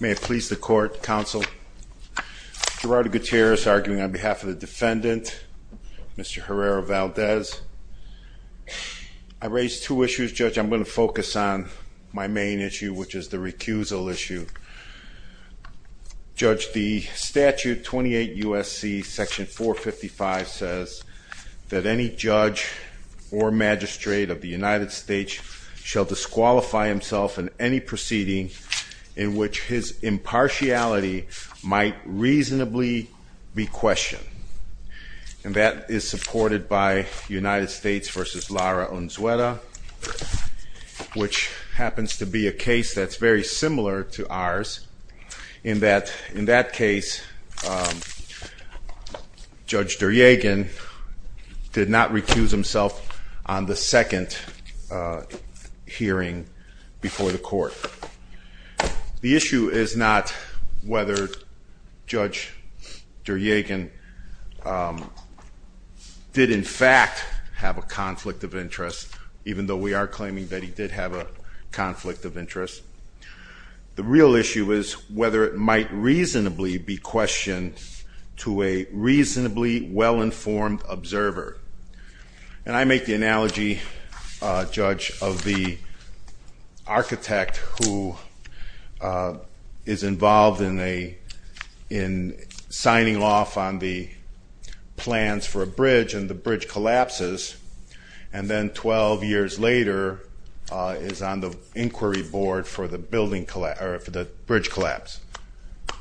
May it please the court, counsel. Gerardo Gutierrez arguing on behalf of the defendant, Mr. Herrera-Valdez. I raised two issues, judge. I'm going to focus on my main issue, which is the recusal issue. Judge, the statute 28 U.S.C. section 455 says that any judge or magistrate of the United States shall disqualify himself in any proceeding in which his impartiality might reasonably be questioned. And that is supported by United States v. Lara Unzueta, which happens to be a case that's very hearing before the court. The issue is not whether Judge Deryagin did in fact have a conflict of interest, even though we are claiming that he did have a conflict of interest. The real issue is whether it might reasonably be questioned to a reasonably well-informed observer. And I make the analogy, judge, of the architect who is involved in signing off on the plans for a bridge and the bridge collapses, and then 12 years later is on the inquiry board for the bridge collapse.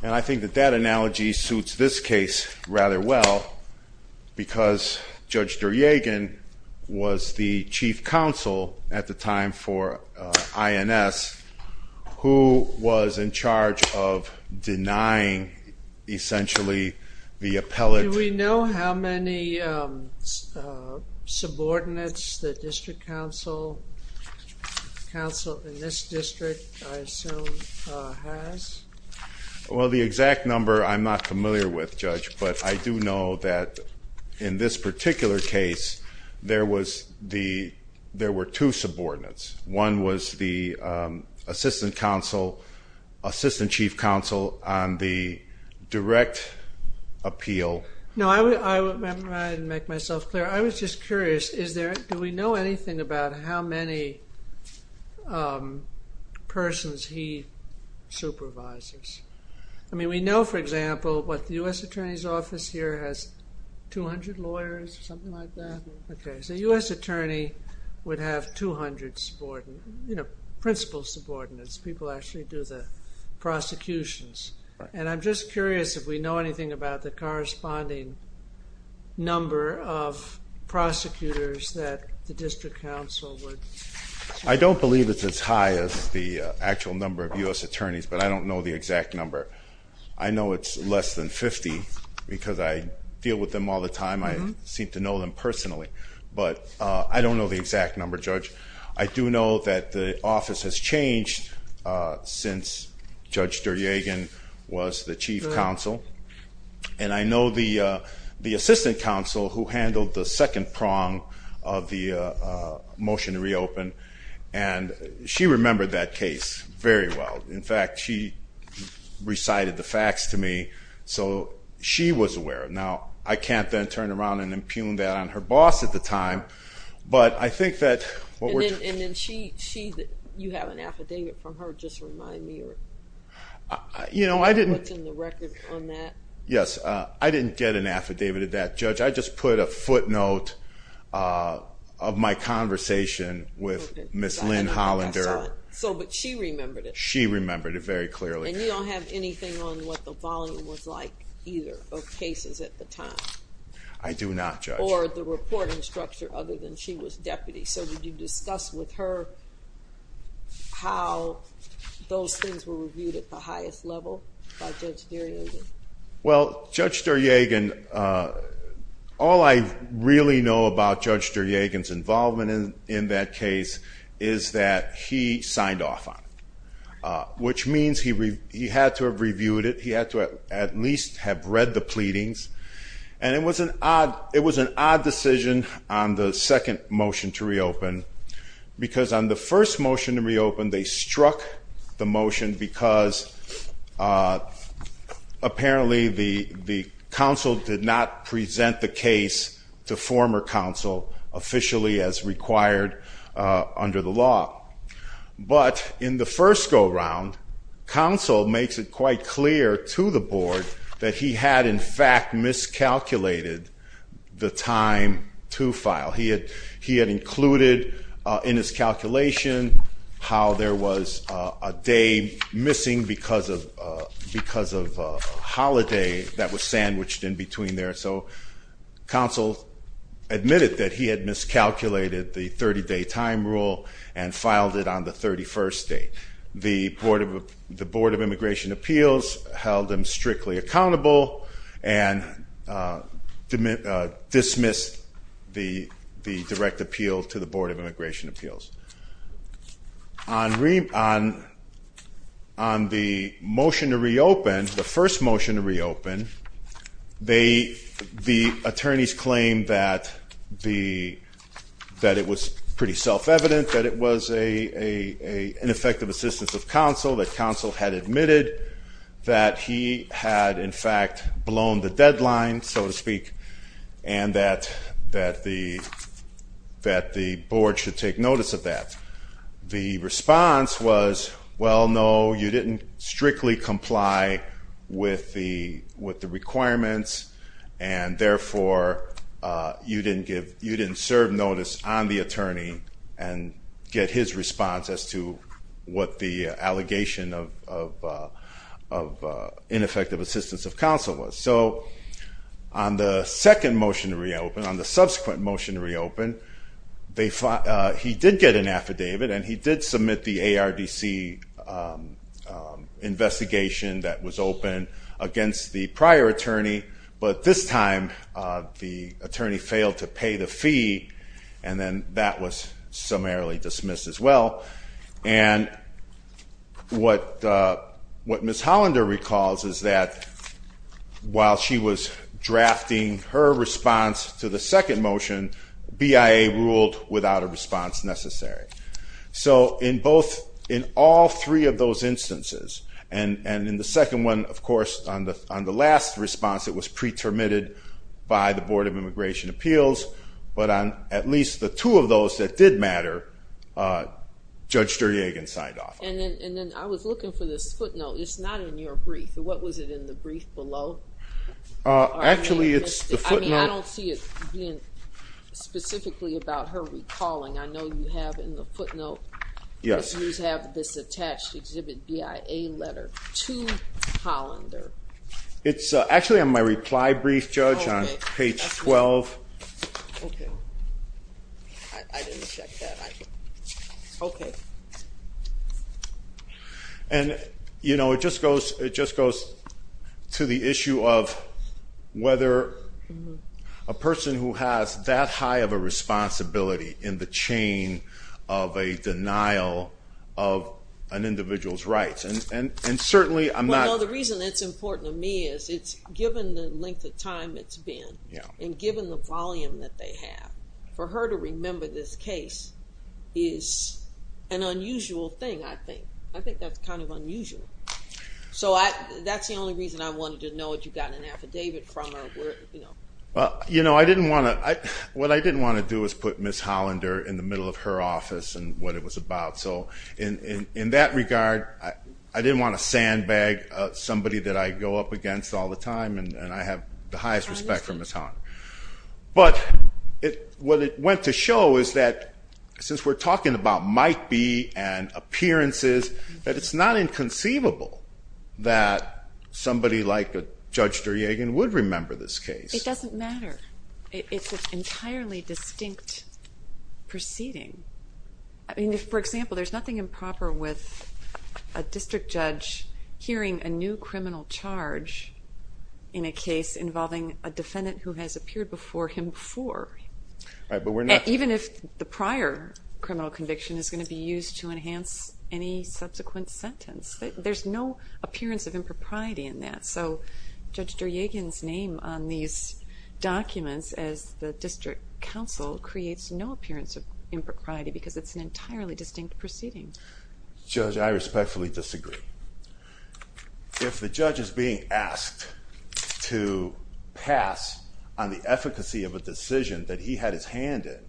And I think that that analogy suits this case rather well, because Judge Deryagin was the chief counsel at the time for INS, who was in charge of denying essentially the appellate- Do we know how many subordinates the district counsel in this district, I assume, has? Well, the exact number I'm not familiar with, judge, but I do know that in this particular case there were two subordinates. One was the assistant chief counsel on the direct appeal- No, I didn't make myself clear. I was just curious, do we know anything about how many persons he supervises? I mean, we know, for example, what, the U.S. attorney's office here has 200 lawyers or something like that? Okay, so a U.S. attorney would have 200, you know, principal subordinates. People actually do the prosecutions. And I'm just curious if we know anything about the corresponding number of prosecutors that the district counsel would- I don't believe it's as high as the actual number of U.S. attorneys, but I don't know the exact number. I know it's less than 50, because I deal with them all the time. I seem to know them personally. But I don't know the exact number, judge. I do know that the office has changed since Judge Deryagin was the chief counsel. And I know the assistant counsel who handled the and she remembered that case very well. In fact, she recited the facts to me, so she was aware. Now, I can't then turn around and impugn that on her boss at the time, but I think that- And then she, you have an affidavit from her, just to remind me, or you know, what's in the record on that? Yes, I didn't get an affidavit of that, Judge. I just put a footnote of my conversation with Ms. Lynn Hollander. So, but she remembered it? She remembered it very clearly. And you don't have anything on what the volume was like, either, of cases at the time? I do not, Judge. Or the reporting structure, other than she was deputy. So, would you discuss with her how those things were reviewed at the All I really know about Judge Deryagin's involvement in that case is that he signed off on it, which means he had to have reviewed it. He had to at least have read the pleadings. And it was an odd decision on the second motion to reopen, because on the first motion to reopen, they struck the motion because, apparently, the counsel did not present the case to former counsel officially as required under the law. But in the first go-round, counsel makes it quite clear to the board that he had, in fact, miscalculated the time to file. He had included in his calculation how there was a day missing because of holiday that was sandwiched in between there. So, counsel admitted that he had miscalculated the 30-day time rule and filed it on the 31st date. The Board of Immigration Appeals held him strictly accountable and dismissed the direct appeal to the Board of Immigration Appeals. On the motion to reopen, the first motion to reopen, the attorneys claimed that it was pretty self-evident, that it was an ineffective assistance of counsel, that counsel had admitted that he had, in fact, blown the deadline, so to speak, and that the board should take notice of that. The response was, well, no, you didn't strictly comply with the requirements and, therefore, you didn't serve notice on the attorney and get his response as to what the of ineffective assistance of counsel was. So, on the second motion to reopen, on the subsequent motion to reopen, he did get an affidavit and he did submit the ARDC investigation that was open against the prior attorney, but this time the attorney failed to pay the fee and then that was summarily dismissed as well. And what Ms. Hollander recalls is that while she was drafting her response to the second motion, BIA ruled without a response necessary. So, in both, in all three of those instances, and in the second one, of course, on the last response, it was pre-termited by the judge Duryagan signed off. And then I was looking for this footnote. It's not in your brief. What was it in the brief below? Actually, it's the footnote. I don't see it being specifically about her recalling. I know you have in the footnote. Yes. You have this attached exhibit BIA letter to Hollander. It's actually on my reply brief, Judge, on page 12. Okay. I didn't check that. Okay. And, you know, it just goes to the issue of whether a person who has that high of a responsibility in the chain of a denial of an individual's rights, and certainly I'm not- Well, no, the reason it's important to me is it's given the length of time it's been and given the for her to remember this case is an unusual thing, I think. I think that's kind of unusual. So, that's the only reason I wanted to know what you got an affidavit from or where, you know. Well, you know, I didn't want to, what I didn't want to do is put Ms. Hollander in the middle of her office and what it was about. So, in that regard, I didn't want to sandbag somebody that I go up against all the time and I have the highest respect for Ms. Hollander. But what it went to show is that since we're talking about might be and appearances, that it's not inconceivable that somebody like Judge Duryagan would remember this case. It doesn't matter. It's an entirely distinct proceeding. I mean, for example, there's nothing improper with a district judge hearing a criminal charge in a case involving a defendant who has appeared before him before. Right, but we're not... Even if the prior criminal conviction is going to be used to enhance any subsequent sentence. There's no appearance of impropriety in that. So, Judge Duryagan's name on these documents as the district counsel creates no appearance of impropriety because it's an entirely distinct proceeding. Judge, I respectfully disagree. If the judge is being asked to pass on the efficacy of a decision that he had his hand in,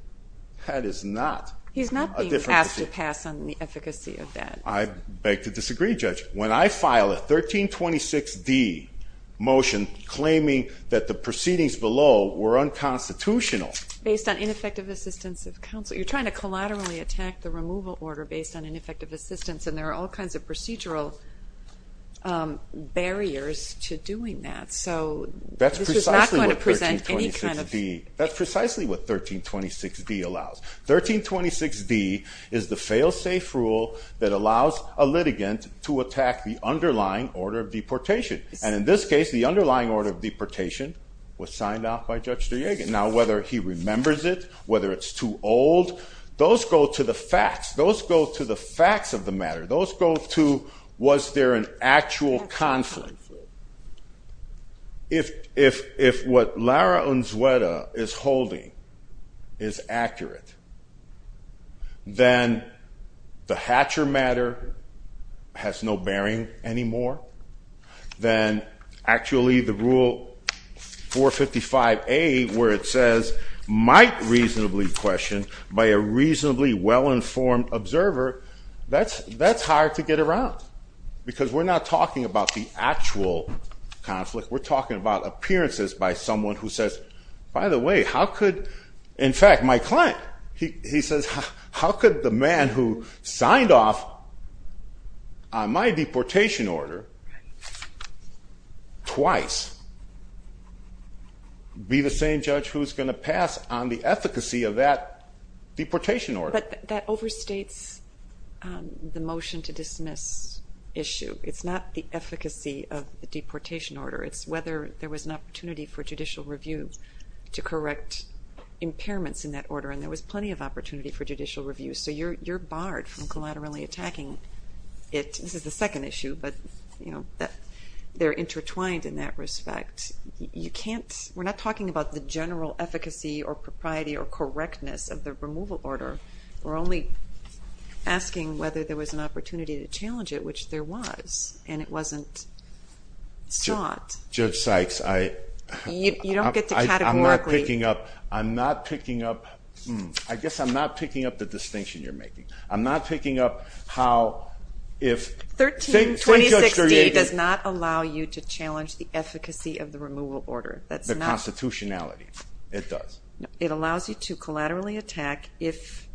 that is not... He's not being asked to pass on the efficacy of that. I beg to disagree, Judge. When I file a 1326D motion claiming that the proceedings below were unconstitutional... Based on ineffective assistance of counsel. You're trying to collaterally attack the removal order based on ineffective assistance, and there are all kinds of procedural barriers to doing that. So, this is not going to present any kind of... That's precisely what 1326D allows. 1326D is the fail-safe rule that allows a litigant to attack the underlying order of deportation. And in this case, the underlying order of deportation was signed off by Judge Duryagan. Now, whether he remembers it, whether it's too old, those go to the facts. Those go to the facts of the matter. Those go to was there an actual conflict. If what Lara Unzueta is holding is accurate, then the Hatcher matter has no bearing anymore. Then, actually, the Rule 455A where it says, might reasonably question by a reasonably well-informed observer, that's hard to get around. Because we're not talking about the actual conflict. We're talking about appearances by someone who says, by the way, how could... In fact, my client, he says, how could the man who signed off on my deportation order twice be the same judge who's going to pass on the efficacy of that deportation order? That overstates the motion to dismiss issue. It's not the efficacy of the deportation order. It's whether there was an opportunity for judicial review to correct impairments in that order. And there was plenty of opportunity for judicial review. So you're barred from collaterally attacking it. This is the second issue, but they're intertwined in that respect. You can't... We're not talking about the general efficacy or propriety or correctness of the order. We're only asking whether there was an opportunity to challenge it, which there was, and it wasn't sought. Judge Sykes, I... You don't get to categorically... I'm not picking up... I'm not picking up... I guess I'm not picking up the distinction you're making. I'm not picking up how, if... 13, 2016 does not allow you to challenge the efficacy of the removal order. The constitutionality, it does. It allows you to collaterally attack if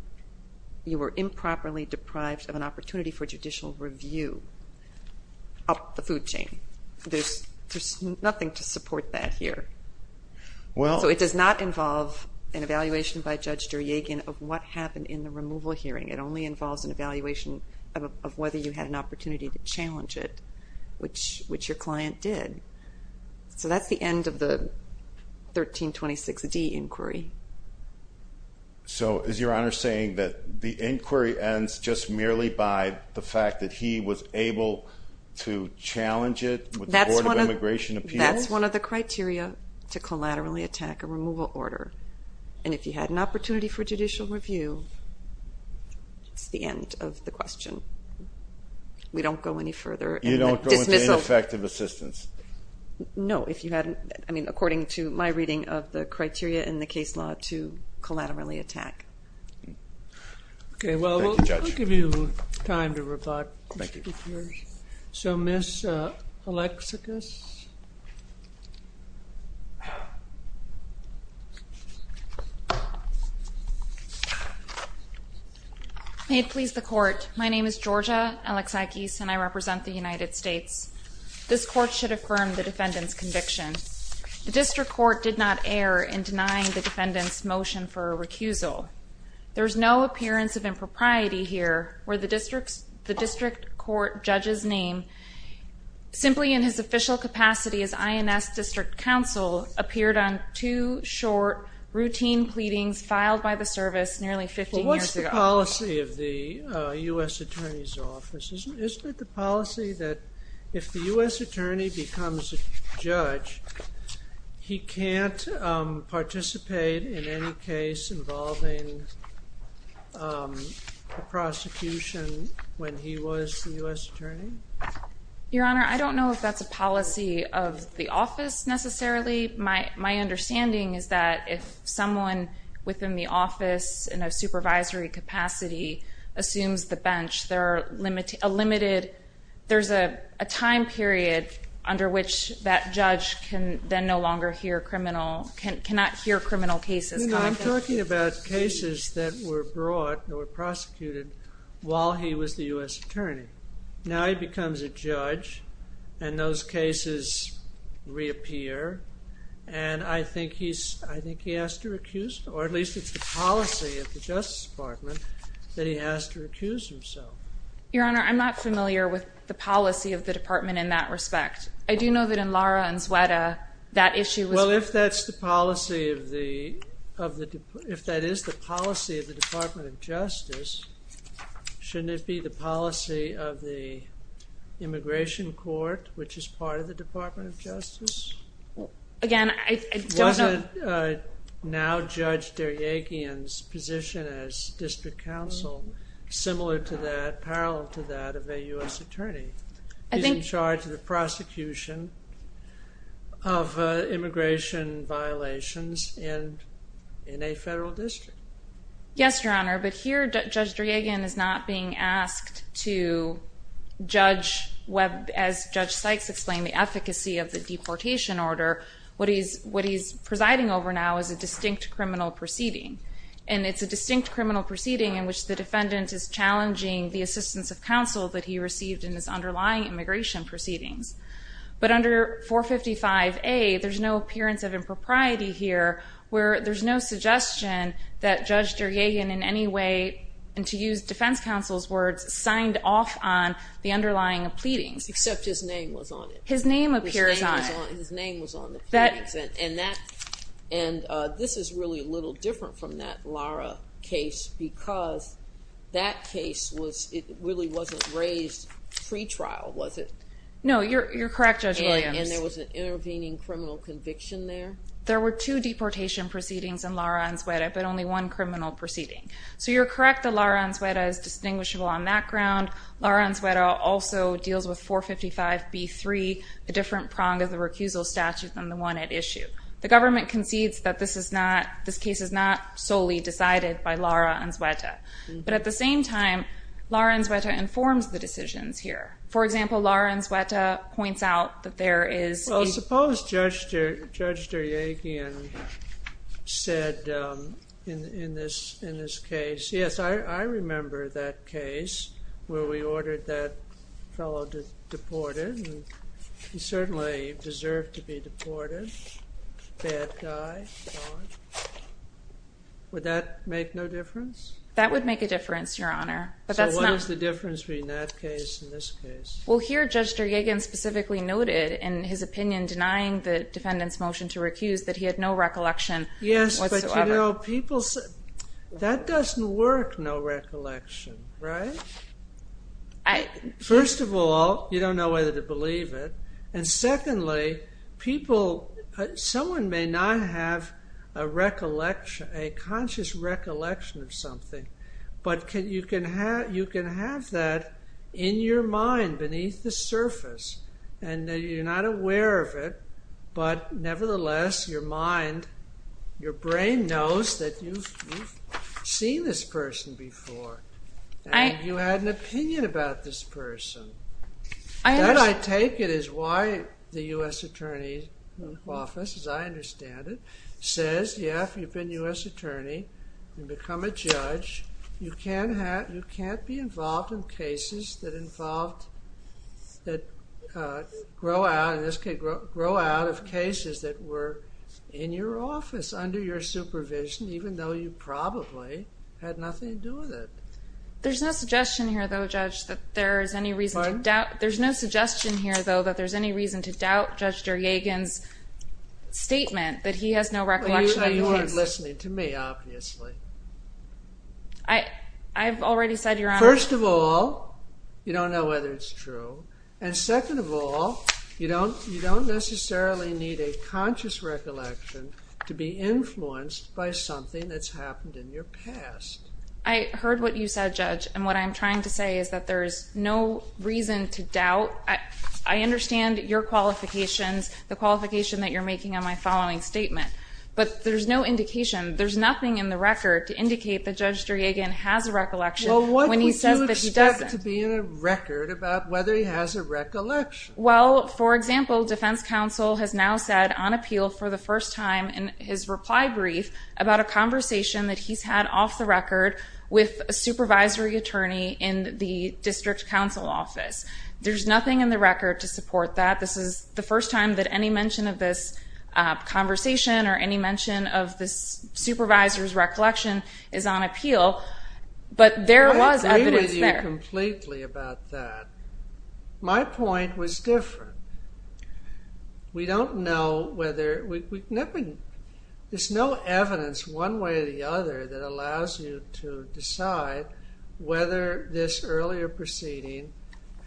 you were improperly deprived of an opportunity for judicial review of the food chain. There's nothing to support that here. Well... So it does not involve an evaluation by Judge Duryagin of what happened in the removal hearing. It only involves an evaluation of whether you had an opportunity to challenge it, which your client did. So that's the end of the 1326D inquiry. So is Your Honor saying that the inquiry ends just merely by the fact that he was able to challenge it with the Board of Immigration Appeals? That's one of the criteria to collaterally attack a removal order, and if you had an opportunity for judicial review, it's the end of the question. We don't go any further. You don't go into ineffective assistance? No, if you hadn't... I mean, according to my reading of the criteria in the case law to make it recursive. So Ms. Alexakis? May it please the Court, my name is Georgia Alexakis, and I represent the United States. This Court should affirm the defendant's conviction. The District Court did not err in denying the defendant's motion for a recusal. There's no appearance of impropriety here where the District Court judge's name, simply in his official capacity as INS District Counsel, appeared on two short, routine pleadings filed by the service nearly 15 years ago. Well, what's the policy of the U.S. Attorney's Office? Isn't it the policy that if the U.S. Attorney's Office is in the office, they can't participate in any case involving the prosecution when he was the U.S. Attorney? Your Honor, I don't know if that's a policy of the office, necessarily. My understanding is that if someone within the office in a supervisory capacity assumes the bench, there's a time period under which that judge can then no longer hear criminal cases. No, I'm talking about cases that were brought or prosecuted while he was the U.S. Attorney. Now he becomes a judge, and those cases reappear, and I think he has to recuse, or at least it's the policy of the Justice Department, that he has to recuse himself. Your Honor, I'm not familiar with the policy of the Justice Department. If that is the policy of the Department of Justice, shouldn't it be the policy of the Immigration Court, which is part of the Department of Justice? Again, I don't know. Was it now Judge Derjagian's position as District Counsel, similar to that, parallel to that of a U.S. Attorney? He's in charge of the prosecution of immigration violations in a federal district. Yes, Your Honor, but here Judge Derjagian is not being asked to judge, as Judge Sykes explained, the efficacy of the deportation order. What he's presiding over now is a distinct criminal proceeding, and it's a distinct criminal proceeding in which the defendant is challenging the assistance of counsel that he received in his underlying immigration proceedings. But under 455A, there's no appearance of impropriety here where there's no suggestion that Judge Derjagian in any way, and to use defense counsel's words, signed off on the underlying of pleadings. Except his name was on it. His name appears on it. His name was on the pleadings, and that, and this is really a little different from that Lara case, because that case was, it really wasn't raised pre-trial, was it? No, you're correct, Judge Williams. And there was an intervening criminal conviction there? There were two deportation proceedings in Lara-Ansuera, but only one criminal proceeding. So you're correct that Lara-Ansuera is distinguishable on that ground. Lara-Ansuera also deals with 455B3, a different prong of the recusal statute than the one at issue. The government concedes that this is not, this case is not solely decided by Lara-Ansuera. But at the same time, Lara-Ansuera informs the decisions here. For example, Lara-Ansuera points out that there is... Well, suppose Judge Derjagian said in this case, yes, I remember that case where we ordered that fellow deported, and he certainly deserved to be deported, bad guy. Would that make no difference? That would make a difference, Your Honor, but that's not... So what is the difference between that case and this case? Well, here Judge Derjagian specifically noted in his opinion, denying the defendant's motion to recuse, that he had no recollection whatsoever. Yes, but you know, people say, that doesn't work, no recollection, right? First of all, you don't know whether to believe it. And secondly, people, someone may not have a recollection, a conscious recollection of something, but you can have that in your mind beneath the surface, and you're not aware of it. But nevertheless, your mind, your brain knows that you've seen this person before, and you had an opinion about this person. That, I take it, is why the U.S. Attorney's Office, as I understand it, says, yeah, if you've been U.S. Attorney and become a judge, you can't have, you can't be involved in cases that involved, that grow out, in this case, grow out of cases that were in your office, under your supervision, even though you probably had nothing to do with it. There's no suggestion here, though, Judge, that there is any reason to doubt, there's no suggestion here, though, that there's any reason to doubt Judge Derjagian's statement that he has no recollection of the case. You weren't listening to me, obviously. I've already said, Your Honor. First of all, you don't know whether it's true, and second of all, you don't necessarily need a conscious recollection to be influenced by something that's happened in your past. I heard what you said, Judge, and what I'm trying to say is that there's no reason to doubt. I understand your qualifications, the qualification that you're making on my following statement, but there's no indication, there's nothing in the recollection when he says that he doesn't. Well, what would you expect to be in a record about whether he has a recollection? Well, for example, defense counsel has now said on appeal for the first time in his reply brief about a conversation that he's had off the record with a supervisory attorney in the district counsel office. There's nothing in the record to support that. This is the first time that any mention of this conversation or any mention of this supervisor's appeal, but there was evidence there. I agree with you completely about that. My point was different. We don't know whether, there's no evidence one way or the other that allows you to decide whether this earlier proceeding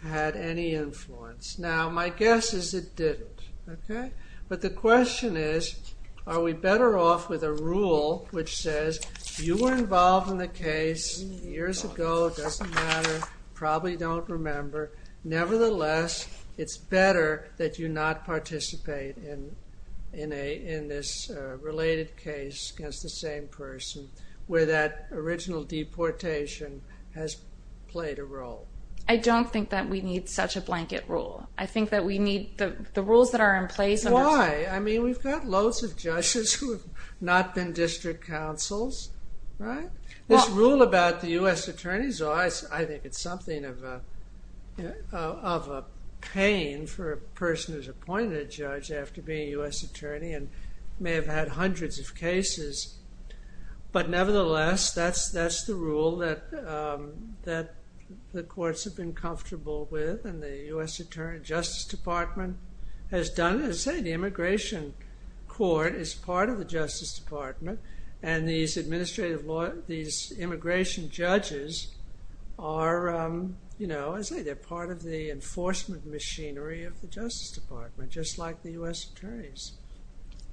had any influence. Now, my guess is it didn't, okay, but the question is are we better off with a rule which says you were involved in the case years ago, doesn't matter, probably don't remember. Nevertheless, it's better that you not participate in this related case against the same person where that original deportation has played a role. I don't think that we need such a blanket rule. I think that we need the rules that are in place. Why? I mean, we've got loads of judges who have not been district counsels, right? This rule about the U.S. attorneys, I think it's something of a pain for a person who's appointed a judge after being a U.S. attorney and may have had hundreds of cases, but nevertheless, that's the rule that the courts have been comfortable with and the U.S. Attorney Justice Department has done. As I say, the Immigration Court is part of the Justice Department and these administrative law, these immigration judges are, you know, as I say, they're part of the enforcement machinery of the Justice Department, just like the U.S. attorneys.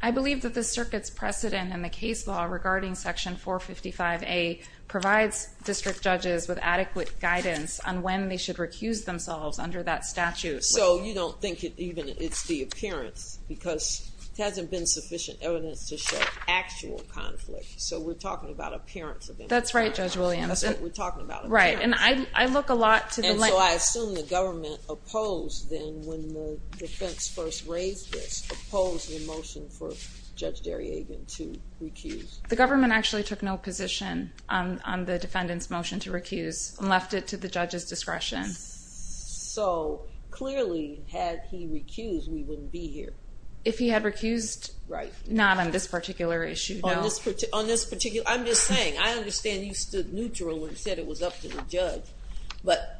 I believe that the circuit's precedent and the case law regarding Section 455A provides district judges with adequate guidance on when they should recuse themselves under that statute. So you don't think it even, it's the appearance because it hasn't been sufficient evidence to show actual conflict. So we're talking about appearance of immigration. That's right, Judge Williams. That's what we're talking about. Right, and I look a lot to the- And so I assume the government opposed then when the defense first raised this, opposed the motion for Judge Darriagan to recuse. The government actually took no position on the defendant's motion to recuse and left it to the judge's discretion. So clearly, had he recused, we wouldn't be here. If he had recused, not on this particular issue, no. On this particular, I'm just saying, I understand you stood neutral and said it was up to the judge, but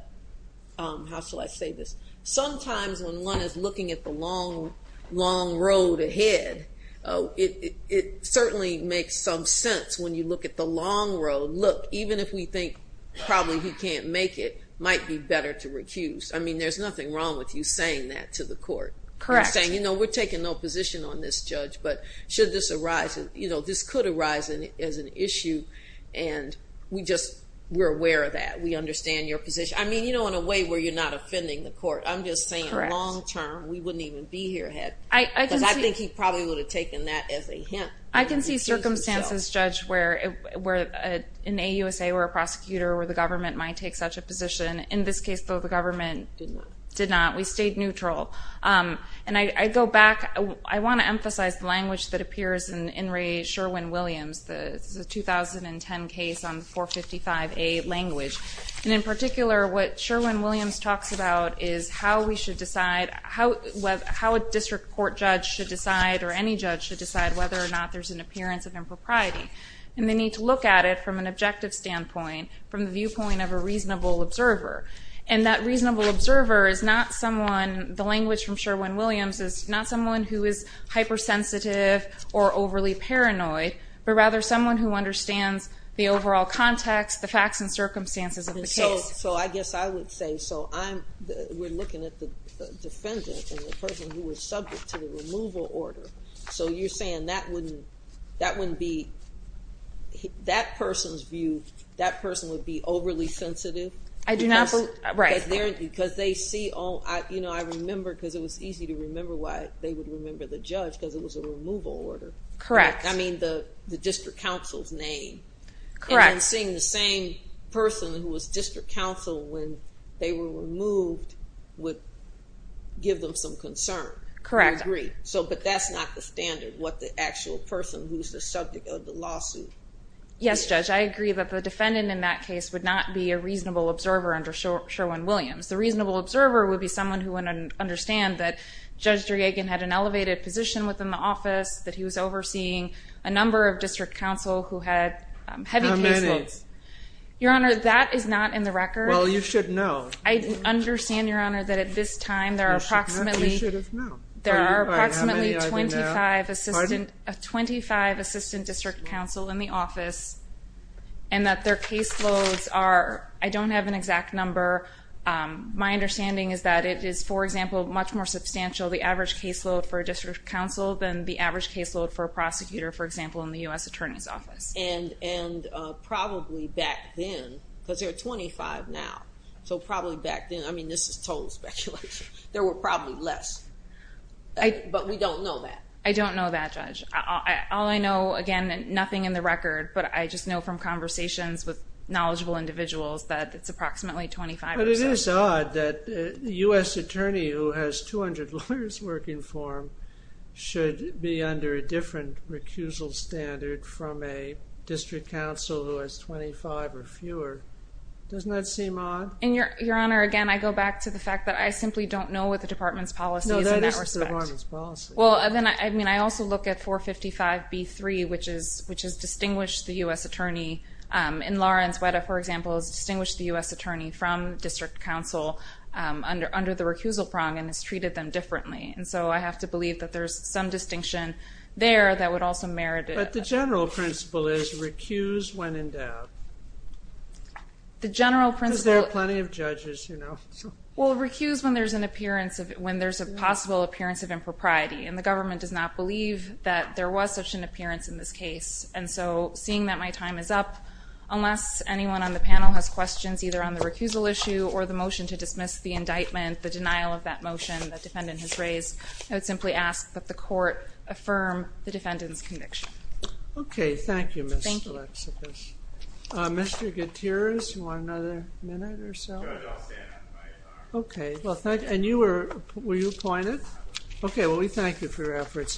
how shall I say this? Sometimes when one is looking at the long, long road ahead, it certainly makes some sense when you look at the long road. Look, even if we think probably he can't make it, might be better to recuse. I mean, there's nothing wrong with you saying that to the court. Correct. You're saying, we're taking no position on this, Judge, but should this arise, this could arise as an issue, and we're aware of that. We understand your position. I mean, in a way where you're not offending the court, I'm just saying long term, we wouldn't even be here, because I think he probably would have taken that as a hint. I can see circumstances, Judge, where in a USA where a prosecutor or the government might take such a position. In this case, though, the government did not. We stayed neutral. And I want to emphasize the language that appears in In re Sherwin-Williams, the 2010 case on 455A language. And in particular, what Sherwin-Williams talks about is how we should decide, how a district court judge should decide or any judge should decide whether or not there's an appearance of impropriety. And they need to look at it from an objective standpoint, from the viewpoint of a reasonable observer. And that reasonable observer is not someone, the language from Sherwin-Williams is not someone who is hypersensitive or overly paranoid, but rather someone who understands the overall context, the facts and circumstances of the case. So I guess I would say, so we're looking at the defendant and the person who was subject to the removal order. So you're saying that wouldn't be, that person's view, that person would be overly They would remember the judge because it was a removal order. Correct. I mean, the district counsel's name. Correct. And then seeing the same person who was district counsel when they were removed would give them some concern. Correct. I agree. So, but that's not the standard, what the actual person who's the subject of the lawsuit. Yes, judge. I agree that the defendant in that case would not be a reasonable observer under Sherwin-Williams. The reasonable observer would be someone who wouldn't understand that Judge Driegan had an elevated position within the office, that he was overseeing a number of district counsel who had heavy caseloads. How many? Your Honor, that is not in the record. Well, you should know. I understand, Your Honor, that at this time there are approximately You should have known. There are approximately 25 assistant district counsel in the office and that their caseloads are, I don't have an exact number. My understanding is that it is, for example, much more substantial, the average caseload for a district counsel than the average caseload for a prosecutor, for example, in the U.S. Attorney's Office. And probably back then, because there are 25 now, so probably back then, I mean, this is total speculation, there were probably less, but we don't know that. I don't know that, Judge. All I know, again, nothing in the record, but I just know from conversations with But it is odd that a U.S. attorney who has 200 lawyers working for him should be under a different recusal standard from a district counsel who has 25 or fewer. Doesn't that seem odd? And, Your Honor, again, I go back to the fact that I simply don't know what the department's policy is in that respect. No, that is the department's policy. Well, then, I mean, I also look at 455B3, which has distinguished the U.S. attorney from district counsel under the recusal prong and has treated them differently. And so I have to believe that there's some distinction there that would also merit it. But the general principle is recuse when in doubt. The general principle— Because there are plenty of judges, you know. Well, recuse when there's a possible appearance of impropriety. And the government does not believe that there was such an appearance in this case. And so, seeing that my time is up, unless anyone on the panel has questions either on the recusal issue or the motion to dismiss the indictment, the denial of that motion the defendant has raised, I would simply ask that the court affirm the defendant's conviction. Okay. Thank you, Ms. Alexis. Mr. Gutierrez, you want another minute or so? Okay. Well, thank—and you were—were you appointed? Okay. Well, we thank you for your efforts.